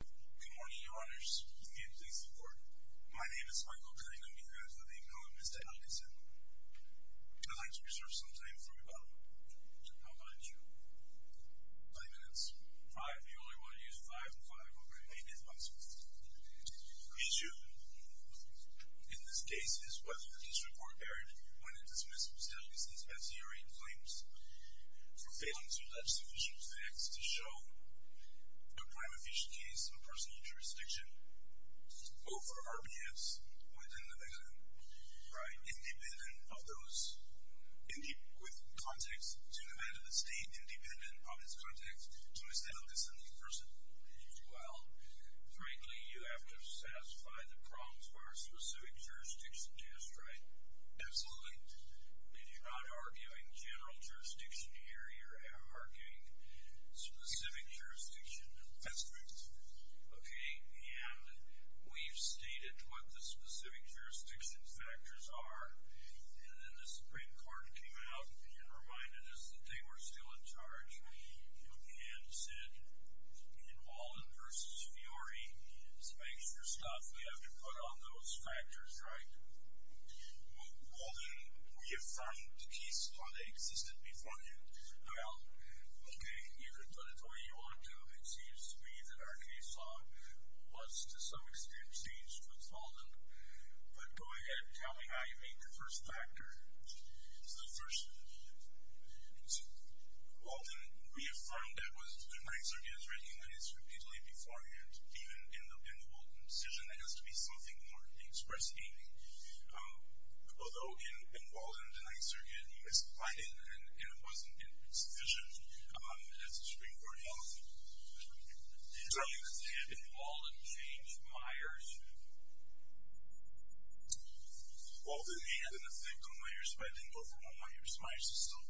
Good morning, your honors. May it please the court. My name is Michael Cunningham. You have the name known as Mr. Elghasen. I'd like to reserve some time for me, Bob. How about a two? 20 minutes. Five? You only want to use five? Five. Okay. May it please the court. Is you. In this case, it is whether the district court erred when it dismissed Mr. Elghasen's personal jurisdiction over RBS within Nevada. Right. Independent of those, with context to Nevada State, independent of its context to Mr. Elghasen in person. Well, frankly, you have to satisfy the problems of our specific jurisdiction test, right? Absolutely. If you're not arguing general jurisdiction here, you're arguing specific jurisdiction. That's correct. Okay. And we've stated what the specific jurisdiction factors are. And then the Supreme Court came out and reminded us that they were still in charge and said in Walden v. Fiori, it's a mixture of stuff. We have to put on those factors, right? Well, then, we have found cases where they existed before you. Well, okay. You can put it the way you want to. It seems to me that our case law was, to some extent, staged with Walden. But go ahead and tell me how you made the first factor. So the first, Walden reaffirmed that was the denying surrogate, right? And that is repeatedly beforehand. Even in the Walden decision, there has to be something more expressive. Although in Walden, denying surrogate, you misapplied it and it wasn't in its vision. That's the Supreme Court health. Can you tell me what's happened in Walden v. Myers? Walden had an effect on Myers, but it didn't go for all Myers. Myers is still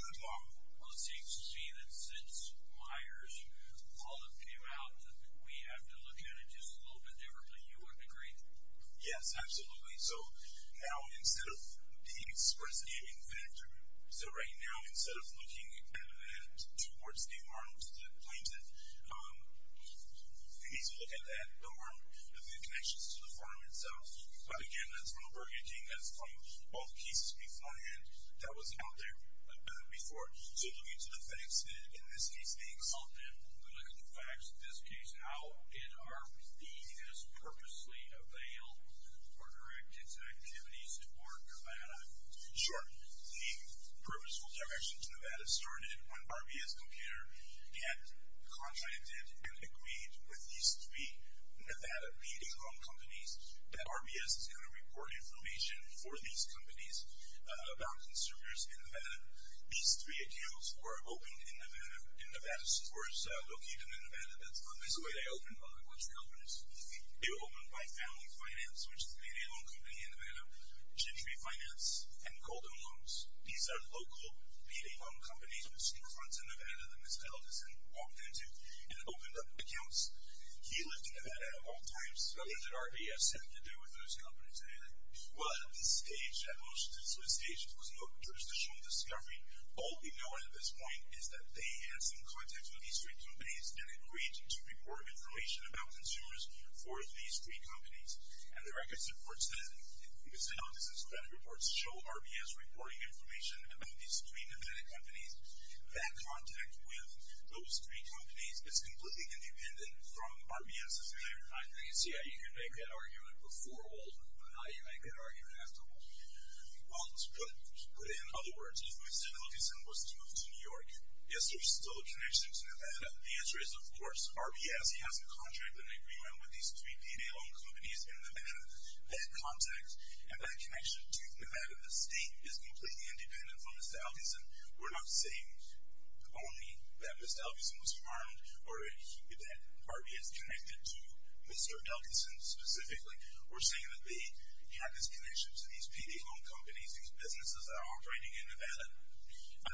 good law. Well, it seems to me that since Myers, Walden came out that we have to look at it just a little bit differently. You would agree? Yes, absolutely. So now, instead of the expressive factor, so right now, instead of looking at it towards the arms, the claims that we need to look at that, the arm, the connections to the firm itself. But again, that's real burglaging. That's from both cases beforehand. That was out there before. So looking to the facts, and in this case being Walden, looking to the facts in this case, how did RBS purposely avail or direct its activities toward Nevada? Sure. The purposeful direction to Nevada started when RBS Computer had contracted and agreed with these three Nevada leading home companies that RBS is going to report information for these companies about consumers in Nevada. These three accounts were opened in Nevada, in Nevada stores located in Nevada. That's the way they opened, by the country openers. They were opened by Family Finance, which is a payday loan company in Nevada, Gentry Finance, and Goldoan Loans. These are local payday loan companies which confronts a Nevada that Mr. Elderson walked into and opened up accounts. He lived in Nevada at all times. So what did RBS have to do with those companies anyway? Well, at this stage, at most, at this stage, there was no jurisdictional discovery. All we know at this point is that they had some contact with these three companies and agreed to report information about consumers for these three companies. And the record supports that. It's how business credit reports show RBS reporting information about these three Nevada companies. That contact with those three companies is completely independent from RBS's claim. I can see how you can make that argument before Walden. But I could argue it after Walden. Well, let's put it in other words. If Mr. Elderson was to move to New York, is there still a connection to Nevada? The answer is, of course. RBS has a contract, an agreement, with these three payday loan companies in Nevada. That contact and that connection to Nevada, the state, is completely independent from Mr. Elderson. We're not saying only that Mr. Elderson was harmed or that RBS connected to Mr. Elderson specifically. We're saying that they had this connection to these payday loan companies, these businesses that are operating in Nevada.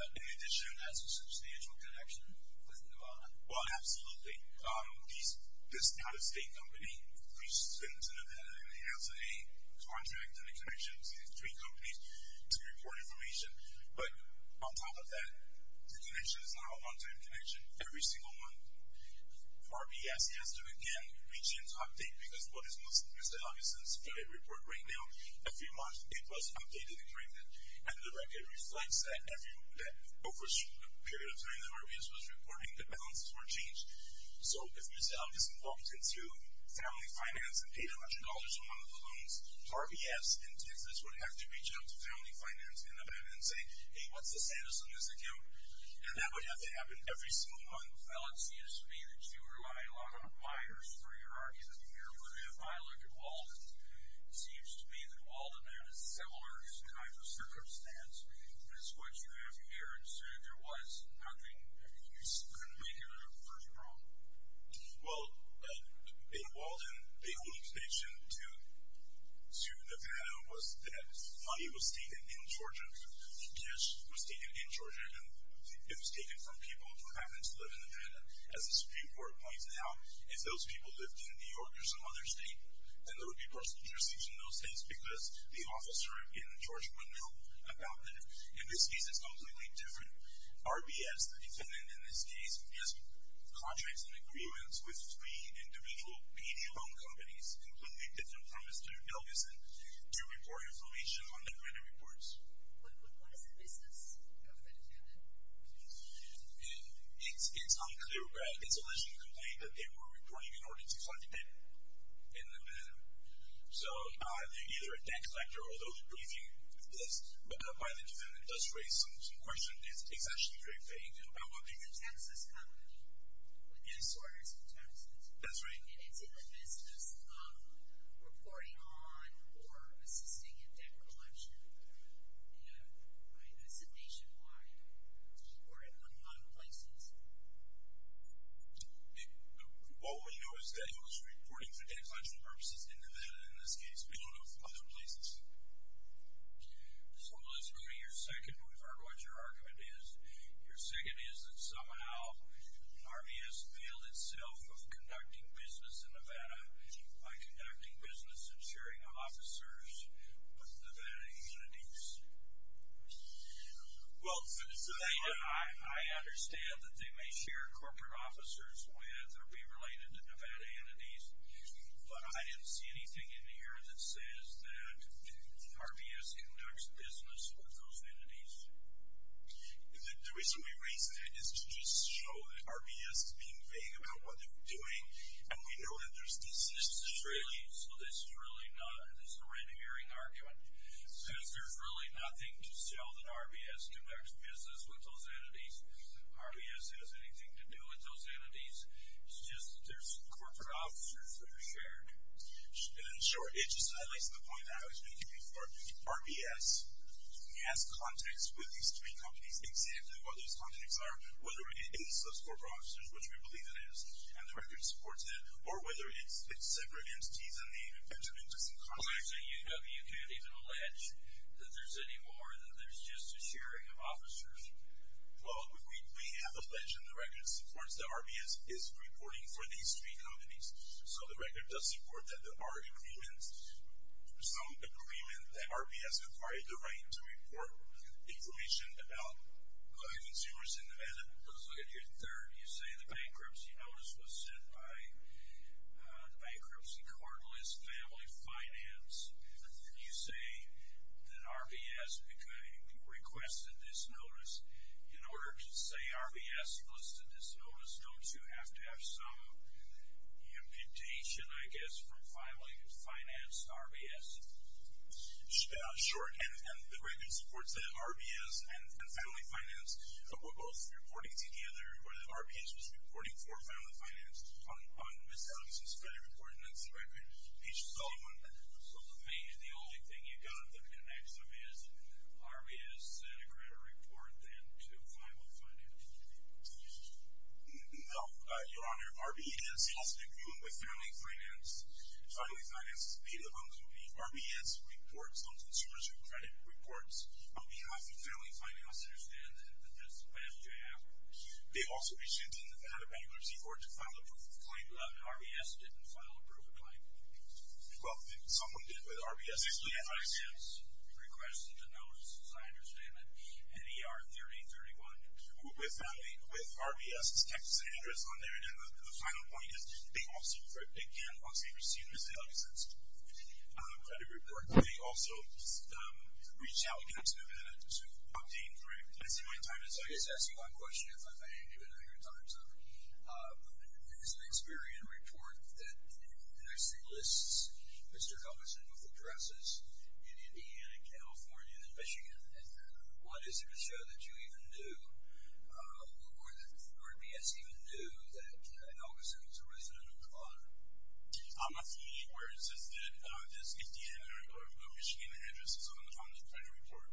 In addition, has a substantial connection with Nevada. Well, absolutely. This out-of-state company, which has been to Nevada, and it has a contract and a connection with these three companies to report information. But on top of that, the connection is not a long-term connection. Every single one, RBS has to, again, reach in to update, because what is Mr. Elderson's credit report right now? It was updated and corrected. And the record reflects that over a period of time that RBS was reporting, the balances were changed. So if Mr. Elderson walked into Family Finance and paid $100 for one of the loans, RBS and Texas would have to reach out to Family Finance in Nevada and say, Hey, what's the status on this account? And that would have to happen every single one. Well, it seems to me that you rely a lot on buyers for your argument here. But if I look at Walden, it seems to me that Walden had a similar kind of circumstance as what you have here, and so there was nothing. You couldn't make a version wrong. Well, in Walden, the only connection to Nevada was that money was taken in Georgia and it was taken from people who happened to live in Nevada. As the Supreme Court points out, if those people lived in New York or some other state, then there would be personal jurisdiction in those states because the officer in Georgia would know about them. In this case, it's completely different. RBS, the defendant in this case, has contracts and agreements with three individual PD loan companies, and it's completely different from Mr. Nelguson to report information on their credit reports. But what is the business of the defendant? It's unclear, but it's alleged in the complaint that they were reporting in order to fund the debt in Nevada. So either a tax collector or those briefings by the defendant does raise some questions. It's actually very vague about what they do. But the taxes come with them. Yes. With these orders of taxes. That's right. And it's in the business of reporting on or assisting in debt collection, either nationwide or in one of the places. All we know is that he was reporting for debt collection purposes in Nevada in this case. We don't know from other places. So, Elizabeth, your second, we've heard what your argument is. Your second is that somehow RBS veiled itself of conducting business in Nevada by conducting business and sharing officers with Nevada entities. Well, I understand that they may share corporate officers with or be related to Nevada entities, but I didn't see anything in here that says that RBS conducts business with those entities. The reason we raised it is to just show that RBS is being vague about what they're doing, and we know that there's this history. So this is really not a random hearing argument. It says there's really nothing to sell that RBS conducts business with those entities. RBS has anything to do with those entities. It's just there's corporate officers that are shared. And in short, it just highlights the point that I was making before. RBS has contacts with these three companies. Exactly what those contacts are, whether it is those corporate officers, which we believe it is, and the record supports it, or whether it's separate entities and they've been connected to some contacts. So UW could even allege that there's any more than there's just a sharing of officers? Well, we have a pledge in the record that supports that RBS is reporting for these three companies. So the record does support that there are agreements, some agreement that RBS acquired the right to report information about consumers in Nevada. Let's look at your third. You say the bankruptcy notice was sent by the bankruptcy court list, family, finance. You say that RBS requested this notice. In order to say RBS requested this notice, don't you have to have some imputation, I guess, from family, finance, RBS? Sure. And the record supports that RBS and family finance were both reporting together, or that RBS was reporting for family finance on Ms. Allison's credit report, and that's the record. So the only thing you got that connects them is RBS sent a credit report and then to family finance. No, Your Honor. RBS has an agreement with family finance. Family finance is made up of the RBS reports on consumers' credit reports. We have the family finance understand that this is a bad job. They also sent in another bankruptcy court to file a proof of claim. RBS didn't file a proof of claim. Well, someone did, but RBS didn't. Family finance requested a notice, as I understand it, NER 3031. With RBS' texts and address on there. And then the final point is they also, again, once they've received Ms. Allison's credit report, they also reached out to them to obtain credit. Did I say my time is up? I guess I'll ask you one question, if I may, and give it a hundred times up. There's an Experian report that actually lists Mr. Helgeson with addresses in Indiana, California, and Michigan. What is it to show that you even knew, or that RBS even knew that Helgeson was a resident of Nevada? I'm not seeing any words. It says that there's Indiana or Michigan addresses on the credit report.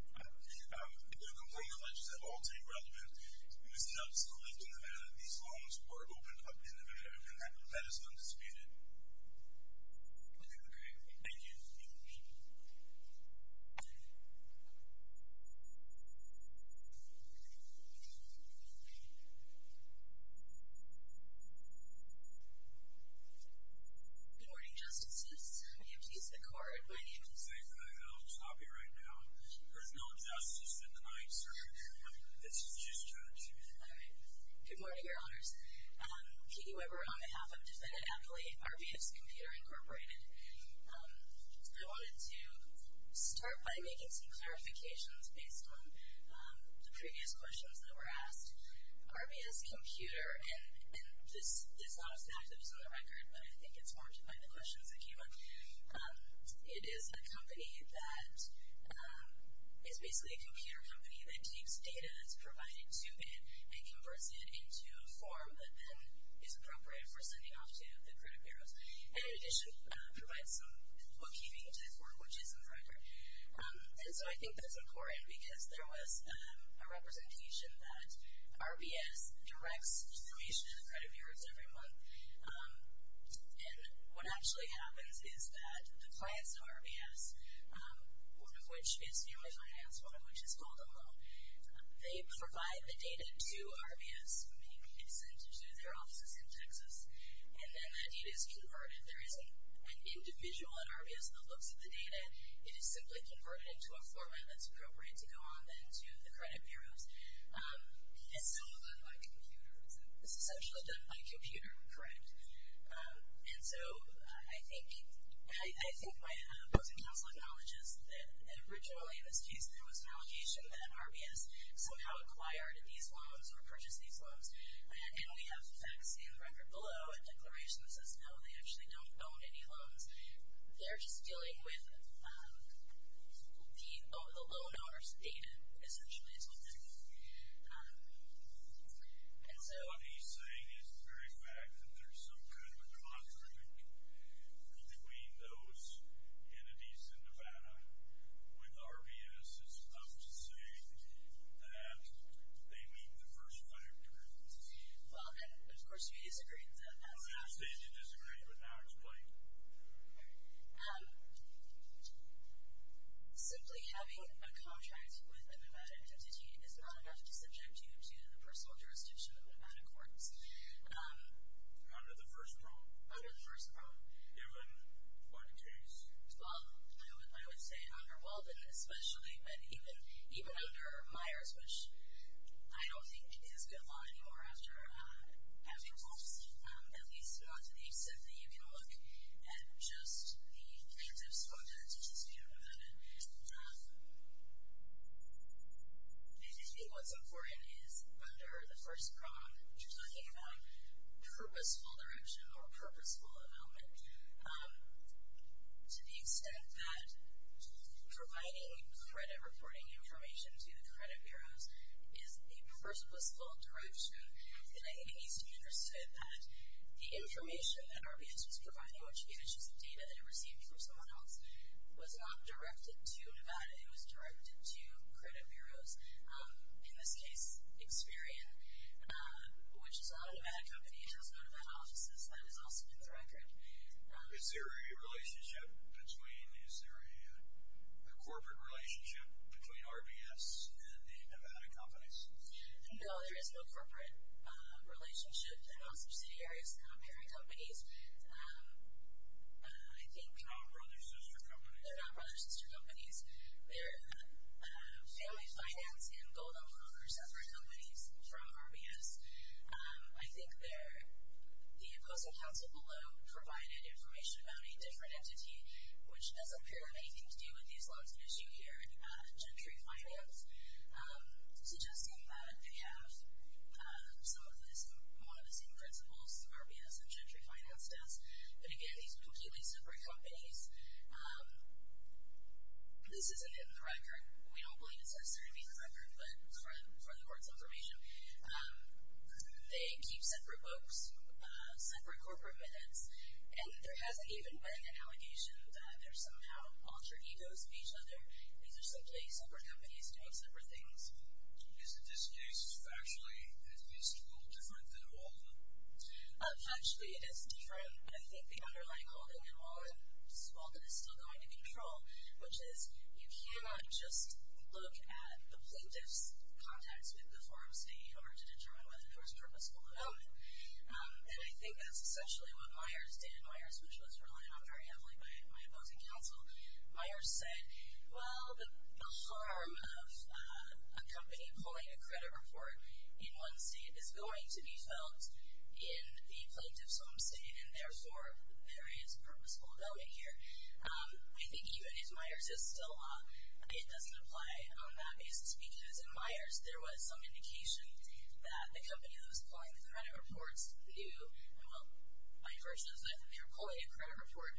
There are complaint letters that all take relevance. Ms. Allison lived in Nevada. These loans were opened up in Nevada. That is undisputed. Okay, great. Thank you. Good morning, Justices. You have to use the card. I can say that. I'll stop you right now. There's no justice in the 9th Circuit Court. This is just judgment. All right. Good morning, Your Honors. Kiki Weber on behalf of Defendant Affiliate, RBS Computer Incorporated. I wanted to start by making some clarifications based on the previous questions that were asked. RBS Computer, and this is not a staff that was on the record, but I think it's warranted by the questions that came up, it is a company that is basically a computer company that takes data that's provided to it and converts it into a form that then is appropriate for sending off to the credit bureaus. And, in addition, provides some bookkeeping to the court, which is in the record. And so I think that's important because there was a representation that RBS directs information to the credit bureaus every month. And what actually happens is that the clients of RBS, one of which is family finance, one of which is called a loan, they provide the data to RBS. I mean, it's sent to their offices in Texas. And then that data is converted. There isn't an individual at RBS that looks at the data. It is simply converted into a format that's appropriate to go on then to the credit bureaus. It's not done by the computer, is it? It's essentially done by computer, correct. And so I think my opposing counsel acknowledges that originally in this case there was an allocation that RBS somehow acquired these loans or purchased these loans. And we have facts in the record below, a declaration that says no, they actually don't own any loans. They're just dealing with the loan owner's data, essentially, is what that means. And so. What he's saying is the very fact that there's some kind of a conflict between those entities in Nevada with RBS is enough to say that they meet the first five terms. Well, and of course we disagree. You said you disagreed, but now explain. Simply having a contract with a Nevada entity is not enough to subject you to the personal jurisdiction of Nevada courts. Under the first probe. Under the first probe. Given what case? Well, I would say under Weldon especially, but even under Myers, which I don't think is good law anymore after having lost at least to the extent that you can look at just the kinds of squandered entities we have in Nevada. I think what's important is under the first probe, you're talking about purposeful direction or purposeful development to the extent that providing credit reporting information to the credit bureaus is the purposeful direction. And I think it needs to be understood that the information that RBS was providing, which is the issues of data that it received from someone else, was not directed to Nevada. It was directed to credit bureaus. In this case, Experian, which is not a Nevada company. It has no Nevada offices. That is also in the record. Is there a relationship between, is there a corporate relationship between RBS and the Nevada companies? No, there is no corporate relationship. They're not subsidiaries. They're not parent companies. They're not brother-sister companies. They're not brother-sister companies. They're family finance and gold owner separate companies from RBS. I think the opposing counsel below provided information about a different entity, which doesn't appear to have anything to do with these laws of issue here, Gentry Finance, suggesting that they have some of the same principles RBS and Gentry Finance does. But again, these are completely separate companies. This isn't in the record. We don't believe it's necessarily in the record, but for the Board's information. They keep separate books, separate corporate minutes, and there hasn't even been an allegation that they're somehow alter egos of each other. These are simply separate companies doing separate things. Is this case factually at least a little different than Walden? Factually, it is different. I think the underlying holding in Walden is still going to control, which is you cannot just look at the plaintiff's contacts with the forum state in order to determine whether there was purposeful development. And I think that's essentially what Myers did. Myers, which was relied on very heavily by my opposing counsel, Myers said, well, the harm of a company pulling a credit report in one state is going to be felt in the plaintiff's home state, and therefore, there is purposeful development here. I think even if Myers is still wrong, it doesn't apply on that basis, because in Myers there was some indication that the company that was pulling the credit reports knew, well, by virtue of the fact that they were pulling a credit report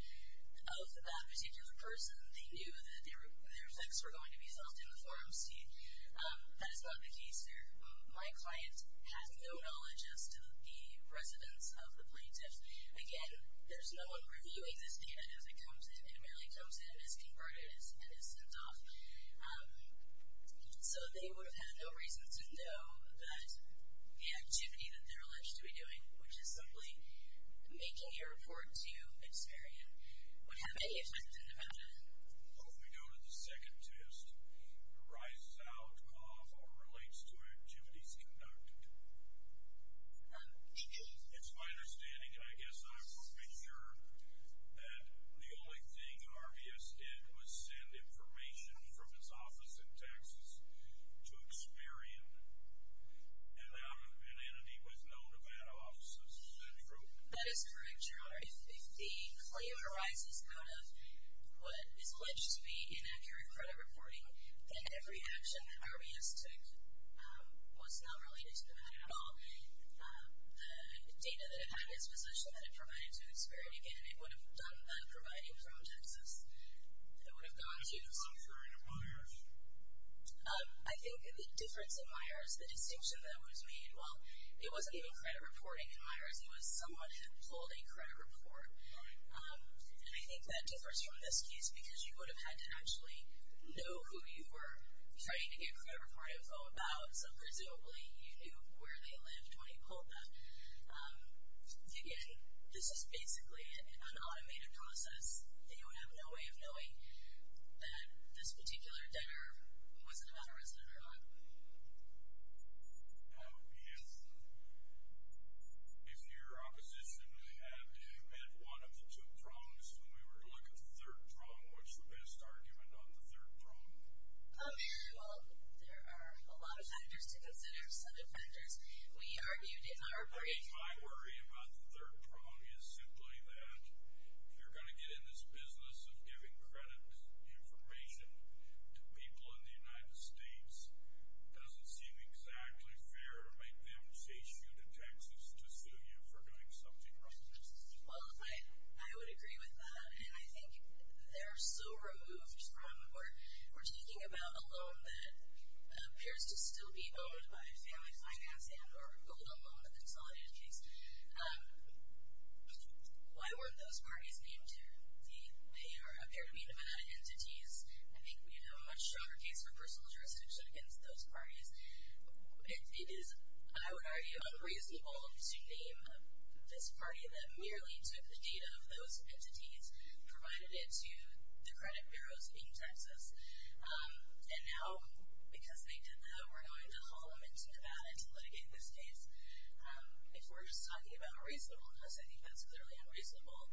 of that particular person, they knew that their effects were going to be felt in the forum state. That is not the case here. My client has no knowledge as to the residence of the plaintiff. Again, there's no one reviewing this data as it comes in. It merely comes in, is converted, and is sent off. So they would have had no reason to know that the activity that they're alleged to be doing, which is simply making a report to a dispariant, would have any effect in the matter. Let me go to the second test. It rises out of or relates to activities conducted. It's my understanding, and I guess I'm pretty sure, that the only thing RBS did was send information from its office in Texas to a disparian, an entity with no Nevada offices. Is that true? That is correct, Your Honor. If the claim arises out of what is alleged to be inaccurate credit reporting, then every action that RBS took was not related to Nevada at all. The data that it had in its possession that it provided to a disparian, again, it would have done that providing from Texas. It would have gone to a disparian. Is it contrary to Myers? I think the difference in Myers, the distinction that was made, well, it wasn't even credit reporting in Myers. It was someone had pulled a credit report. And I think that differs from this case because you would have had to actually know who you were trying to get credit reporting info about, so presumably you knew where they lived when you pulled that. Again, this is basically an automated process, and you would have no way of knowing that this particular debtor was a Nevada resident or not. If your opposition had met one of the two prongs, and we were to look at the third prong, what's the best argument on the third prong? Well, there are a lot of factors to consider, some of the factors we argued in our report. My worry about the third prong is simply that if you're going to get in this business of giving credit information to people in the United States, it doesn't seem exactly fair to make them chase you to Texas to sue you for doing something wrong. Well, I would agree with that. And I think they're so removed from, we're talking about a loan that appears to still be owned by Family Finance and or pulled a loan, a consolidated case. Why weren't those parties named here? They appear to be Nevada entities. I think we have a much stronger case for personal jurisdiction against those parties. It is, I would argue, unreasonable to name this party that merely took the data of those entities and provided it to the credit bureaus in Texas. And now, because they did that, we're going to haul them into Nevada to litigate this case. If we're just talking about reasonableness, I think that's clearly unreasonable,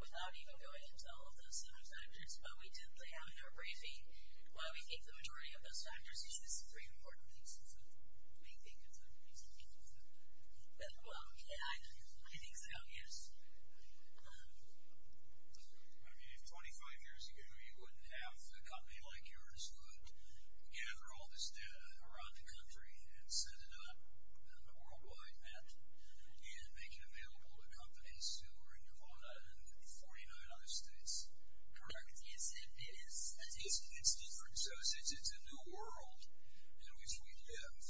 without even going into all of those other factors. But we did lay out in our briefing why we think the majority of those factors. These are the three important reasons we think it's unreasonable to do that. Well, yeah, I think so, yes. I mean, if 25 years ago you wouldn't have a company like yours who would gather all this data around the country and set it up on a worldwide map and make it available to companies who are in Nevada and 49 other states. Correct. It's different. So it's a new world in which we live.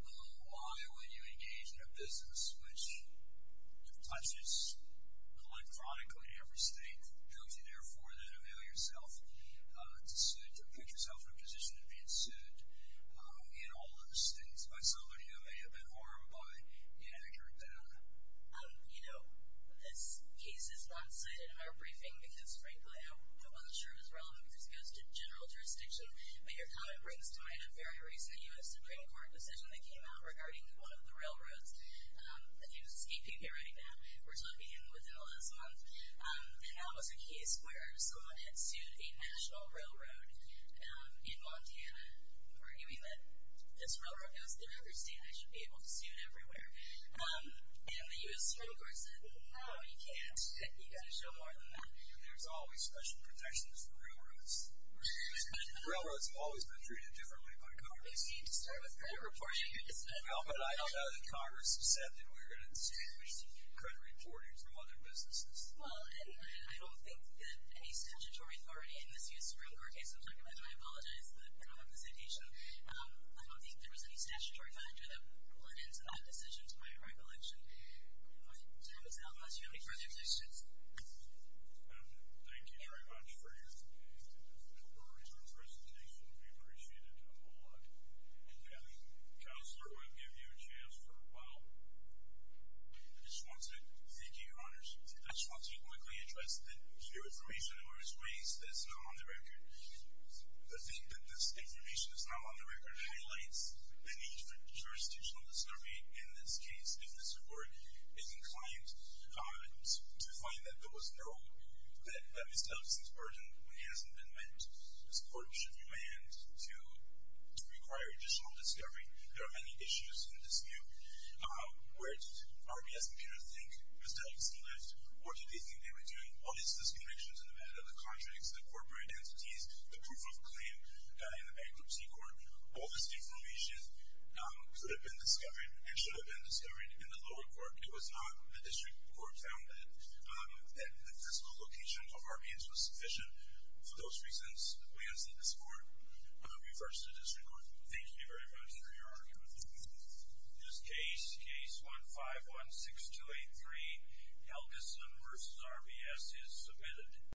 Well, why would you engage in a business which touches electronically every state and tells you, therefore, then to mail yourself to suit, to put yourself in a position of being sued in all those states by somebody who may have been harmed by inaccurate data? You know, this case is not cited in our briefing because, frankly, I'm not sure it's relevant because it goes to general jurisdiction. But your comment brings to mind a very recent U.S. Supreme Court decision that came out regarding one of the railroads that is escaping me right now. We're talking within the last month. And that was a case where someone had sued a national railroad in Montana, arguing that this railroad goes through every state and I should be able to sue it everywhere. And the U.S. Supreme Court said, no, you can't. You've got to show more than that. There's always special protections for railroads. Railroads have always been treated differently by Congress. We need to start with credit reporting instead. Well, but I don't know that Congress has said that we're going to sue credit reporting from other businesses. Well, and I don't think that any statutory authority in this U.S. Supreme Court case I'm talking about, and I apologize, but I don't have the citation. I don't think there was any statutory factor that went into that decision to my recollection. My time is out. Unless you have any further questions. Thank you very much for your brief and thorough presentation. We appreciate it a whole lot. Counselor, I'm going to give you a chance for a while. I just want to thank you, Your Honors. I just want to quickly address the new information that was raised that is not on the record. The thing that this information that's not on the record highlights the need for jurisdictional discovery in this case, if the Supreme Court is inclined to find that there was no, that Ms. Davidson's burden hasn't been met. This court should be manned to require additional discovery. There are many issues in this new. Where did RBS Computer think Ms. Davidson lived? What did they think they were doing? All these disconnections in the matter, the contracts, the corporate entities, the proof of claim in the bankruptcy court, all this information could have been discovered and should have been discovered in the lower court. It was not the district court found that the fiscal location of RBS was sufficient. For those reasons, we ask that this court reverse the district court. Thank you very much for your argument. This case, Case 1516283, Helgeson v. RBS, is submitted.